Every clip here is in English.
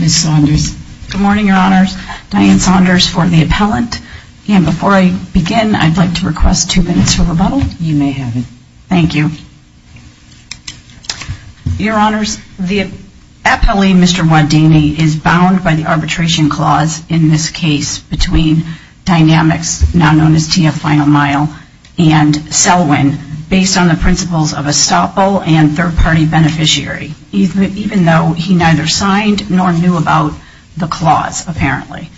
Ms. Saunders. Good morning, your honors. Diane Saunders for the appellant. And before I begin, I'd like to request two minutes for rebuttal. You may have it. Thank you. Your honors, the appellee Mr. Wadani is bound by the arbitration clause in this case between Dynamics, now known as TF Final Mile, and Selwyn, based on the principles of a stop-all and third-party beneficiary, even though he neither signed nor knew about the clause, apparently.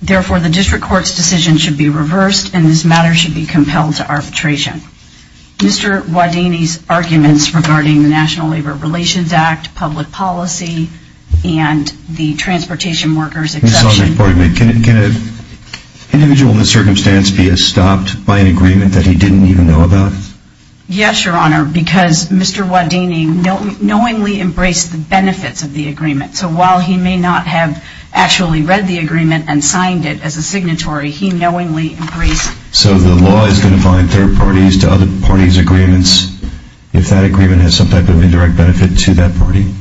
Therefore, the district court's decision should be reversed, and this matter should be compelled to arbitration. Mr. Wadani's arguments regarding the National Labor Relations Act, public policy, and the transportation workers exception... Ms. Saunders, pardon me. Can an individual in this circumstance be stopped by an agreement that he didn't even know about? Yes, your honor, because Mr. Wadani knowingly embraced the benefits of the agreement. So while he may not have actually read the agreement and signed it as a signatory, he knowingly embraced... So the law is going to find third parties to other parties' agreements if that agreement has some type of indirect benefit to that party?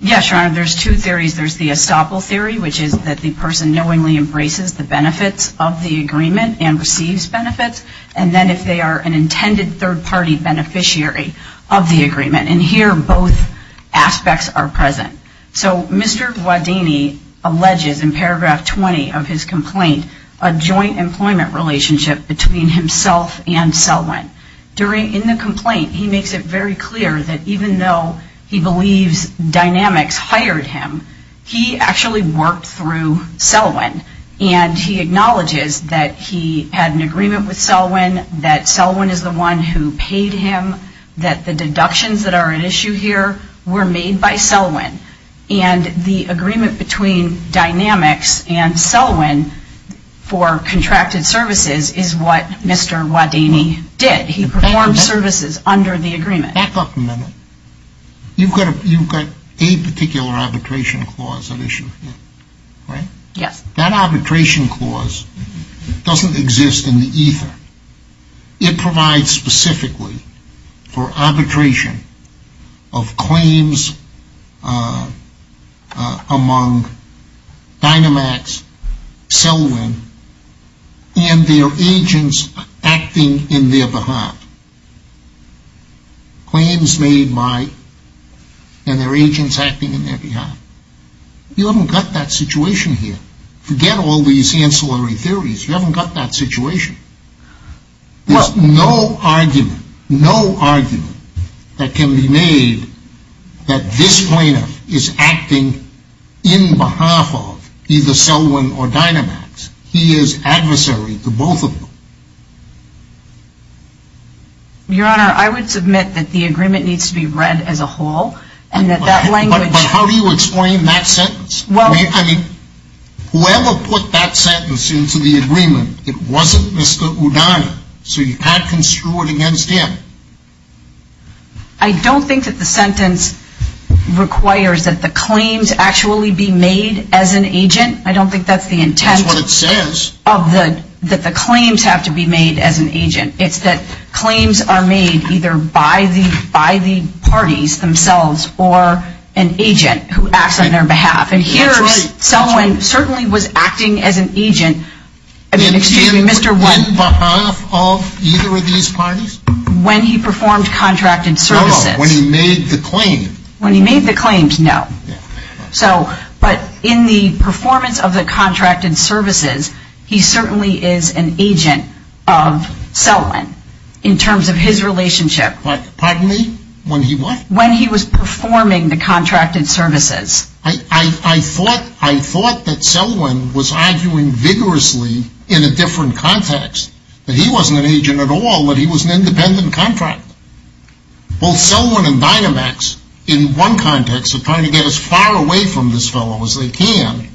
Yes, your honor, there's two theories. There's the stop-all theory, which is that the person knowingly embraces the benefits of the agreement and receives benefits, and then if they are an employment relationship between himself and Selwyn. In the complaint, he makes it very clear that even though he believes Dynamics hired him, he actually worked through Selwyn, and he acknowledges that he had an agreement with Selwyn, that Selwyn is the one who paid him, that the deductions that are at issue here were made by Selwyn, and the agreement between Dynamics and Dynamics and Selwyn for contracted services is what Mr. Wadani did. He performed services under the agreement. Back up a minute. You've got a particular arbitration clause at issue here, right? Yes. That arbitration clause doesn't exist in the Selwyn, and their agents acting in their behalf. Claims made by, and their agents acting in their behalf. You haven't got that situation here. Forget all these ancillary theories. You haven't got that situation. There's no argument, no argument that can be made that this is Selwyn or Dynamics. He is adversary to both of them. Your Honor, I would submit that the agreement needs to be read as a whole, and that that language. But how do you explain that sentence? Whoever put that sentence into the agreement, it wasn't Mr. Wadani, so you can't screw it against him. I don't think that the sentence requires that the claims actually be made as an agent. I don't think that's the intent. That's what it says. That the claims have to be made as an agent. It's that claims are made either by the parties themselves, or an agent who When he performed contracted services. No, no, when he made the claims. When he made the claims, no. But in the performance of the contracted services, he certainly is an agent of Selwyn, in terms of his relationship. Pardon me? When he what? When he was performing the contracted services. I thought that Selwyn was arguing vigorously in a different context, that he wasn't an agent at all, that he was an independent contractor. Both Selwyn and Dynamics, in one context, are trying to get as far away from this fellow as they can,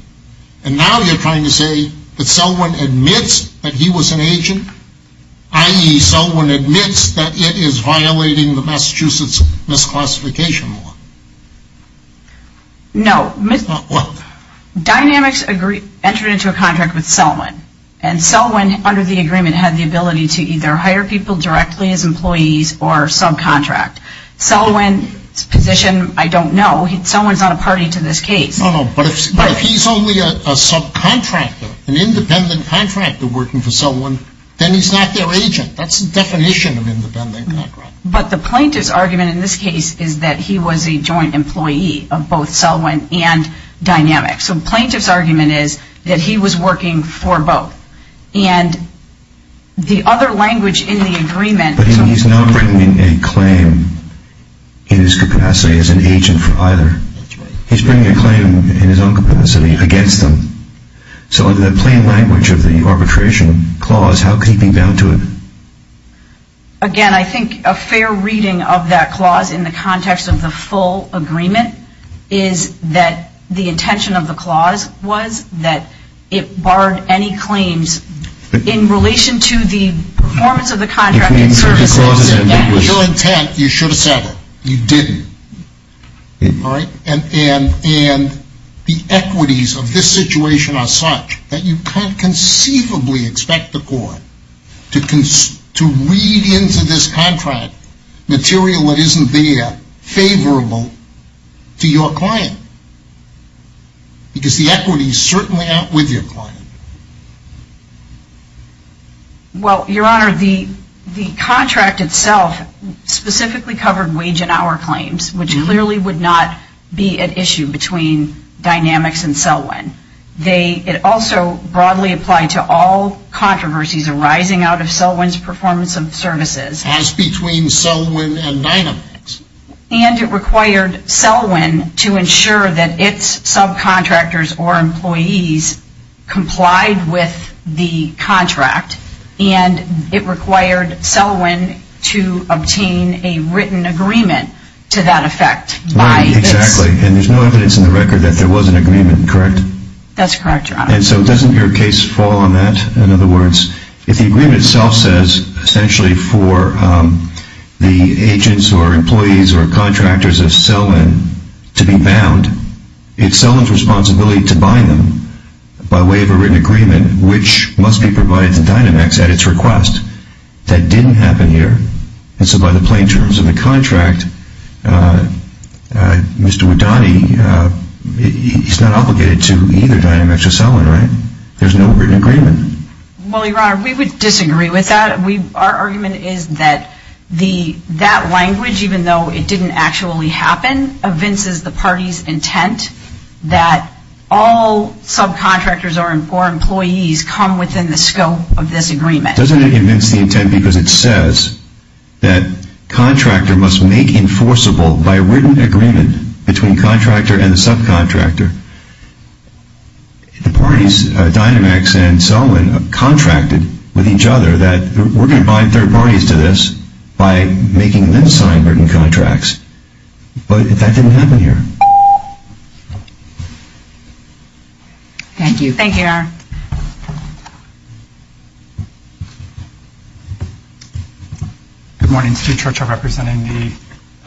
and now you're trying to say that Selwyn admits that he was an agent, i.e. Selwyn admits that it is violating the Massachusetts misclassification law. No. Dynamics entered into a contract with Selwyn, and Selwyn, under the agreement, had the ability to either hire people directly as employees, or subcontract. Selwyn's position, I don't know. Selwyn's not a party to this case. No, no, but if he's only a subcontractor, an independent contractor working for Selwyn, then he's not their agent. That's the definition of independent contractor. But the plaintiff's argument in this case is that he was a joint employee of both Selwyn and Dynamics. So the plaintiff's argument is that he was working for both. And the other language in the agreement But he's not bringing a claim in his capacity as an agent for either. He's bringing a claim in his own capacity against them. So under the plain language of the arbitration clause, how could he be bound to it? Again, I think a fair reading of that clause in the context of the full agreement is that the intention of the clause was that it barred any claims. In relation to the performance of the contract in service. Without intent, you should have said it. You didn't. And the equities of this situation are such that you can't conceivably expect the court to read into this contract material that isn't there favorable to your client. Because the equities certainly aren't with your client. Well, your honor, the contract itself specifically covered wage and hour claims, which clearly would not be an issue between Dynamics and Selwyn. It also broadly applied to all controversies arising out of Selwyn's performance of services. As between Selwyn and Dynamics. And it required Selwyn to ensure that its subcontractors or employees complied with the contract. And it required Selwyn to obtain a written agreement to that effect. Exactly. And there's no evidence in the record that there was an agreement, correct? That's correct, your honor. And so doesn't your case fall on that? In other words, if the agreement itself says essentially for the agents or employees or contractors of Selwyn to be bound, it's Selwyn's responsibility to bind them by way of a written agreement, which must be provided to Dynamics at its request. That didn't happen here. And so by the plain terms of the contract, Mr. Widani, he's not obligated to either Dynamics or Selwyn, right? There's no written agreement. Well, your honor, we would disagree with that. Our argument is that that language, even though it didn't actually happen, evinces the party's intent that all subcontractors or employees come within the scope of this agreement. Doesn't it evince the intent because it says that contractor must make enforceable by written agreement between contractor and subcontractor? The parties, Dynamics and Selwyn, contracted with each other that we're going to bind third parties to this by making them sign written contracts. But that didn't happen here. Thank you. Thank you, Your Honor. Good morning. Steve Churchill representing the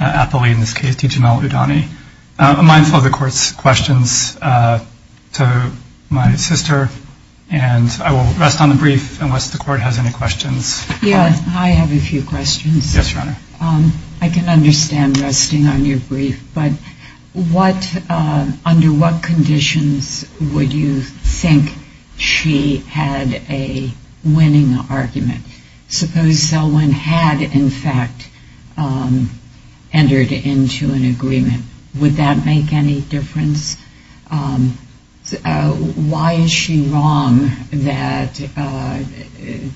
athlete in this case, Dijamel Widani. A mindful of the court's questions to my sister, and I will rest on the brief unless the court has any questions. Yeah, I have a few questions. Yes, Your Honor. I can understand resting on your brief. But under what conditions would you think she had a winning argument? Suppose Selwyn had, in fact, entered into an agreement. Would that make any difference? Why is she wrong that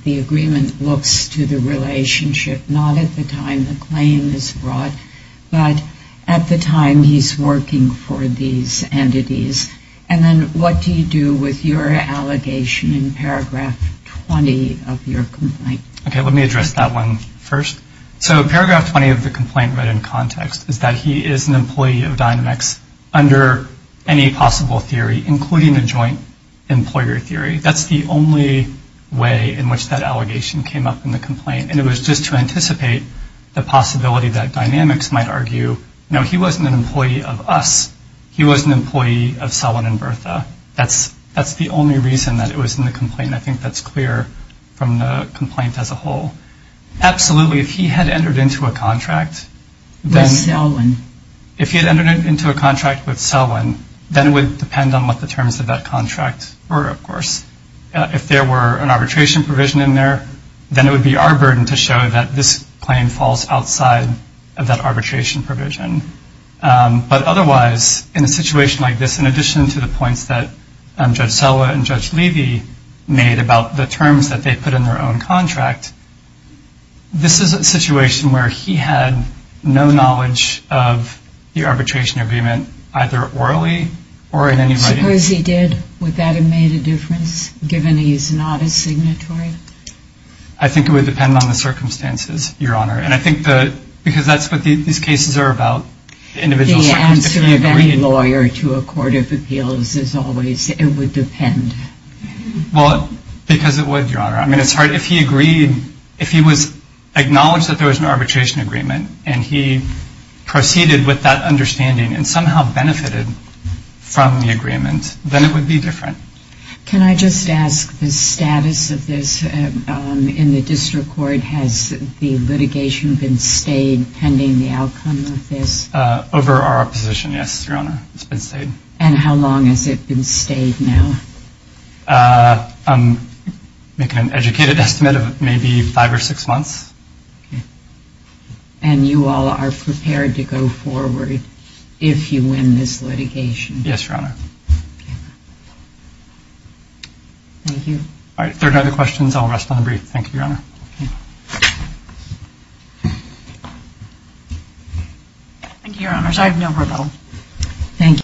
the agreement looks to the relationship not at the time the claim is brought, but at the time he's working for these entities? And then what do you do with your allegation in paragraph 20 of your complaint? Okay, let me address that one first. So paragraph 20 of the complaint read in context is that he is an employee of Dynamics under any possible theory, including a joint employer theory. That's the only way in which that allegation came up in the complaint. And it was just to anticipate the possibility that Dynamics might argue, no, he wasn't an employee of us. He was an employee of Selwyn and Bertha. That's the only reason that it was in the complaint, and I think that's clear from the complaint as a whole. Absolutely, if he had entered into a contract with Selwyn, then it would depend on what the terms of that contract were, of course. If there were an arbitration provision in there, then it would be our burden to show that this claim falls outside of that arbitration provision. But otherwise, in a situation like this, in addition to the points that Judge Selwyn and Judge Levy made about the terms that they put in their own contract, this is a situation where he had no knowledge of the arbitration agreement, either orally or in any writing. Suppose he did. Would that have made a difference, given he's not a signatory? I think it would depend on the circumstances, Your Honor. And I think that because that's what these cases are about, individual circumstances. The answer of any lawyer to a court of appeals is always it would depend. Well, because it would, Your Honor. I mean, it's hard. If he agreed, if he was acknowledged that there was an arbitration agreement and he proceeded with that understanding and somehow benefited from the agreement, then it would be different. Can I just ask the status of this in the district court? Has the litigation been stayed pending the outcome of this? Over our opposition, yes, Your Honor. It's been stayed. And how long has it been stayed now? I'm making an educated estimate of maybe five or six months. And you all are prepared to go forward if you win this litigation? Yes, Your Honor. Thank you. All right, if there are no other questions, I'll rest on the brief. Thank you, Your Honor. Thank you, Your Honors. I have no rebuttal. Thank you.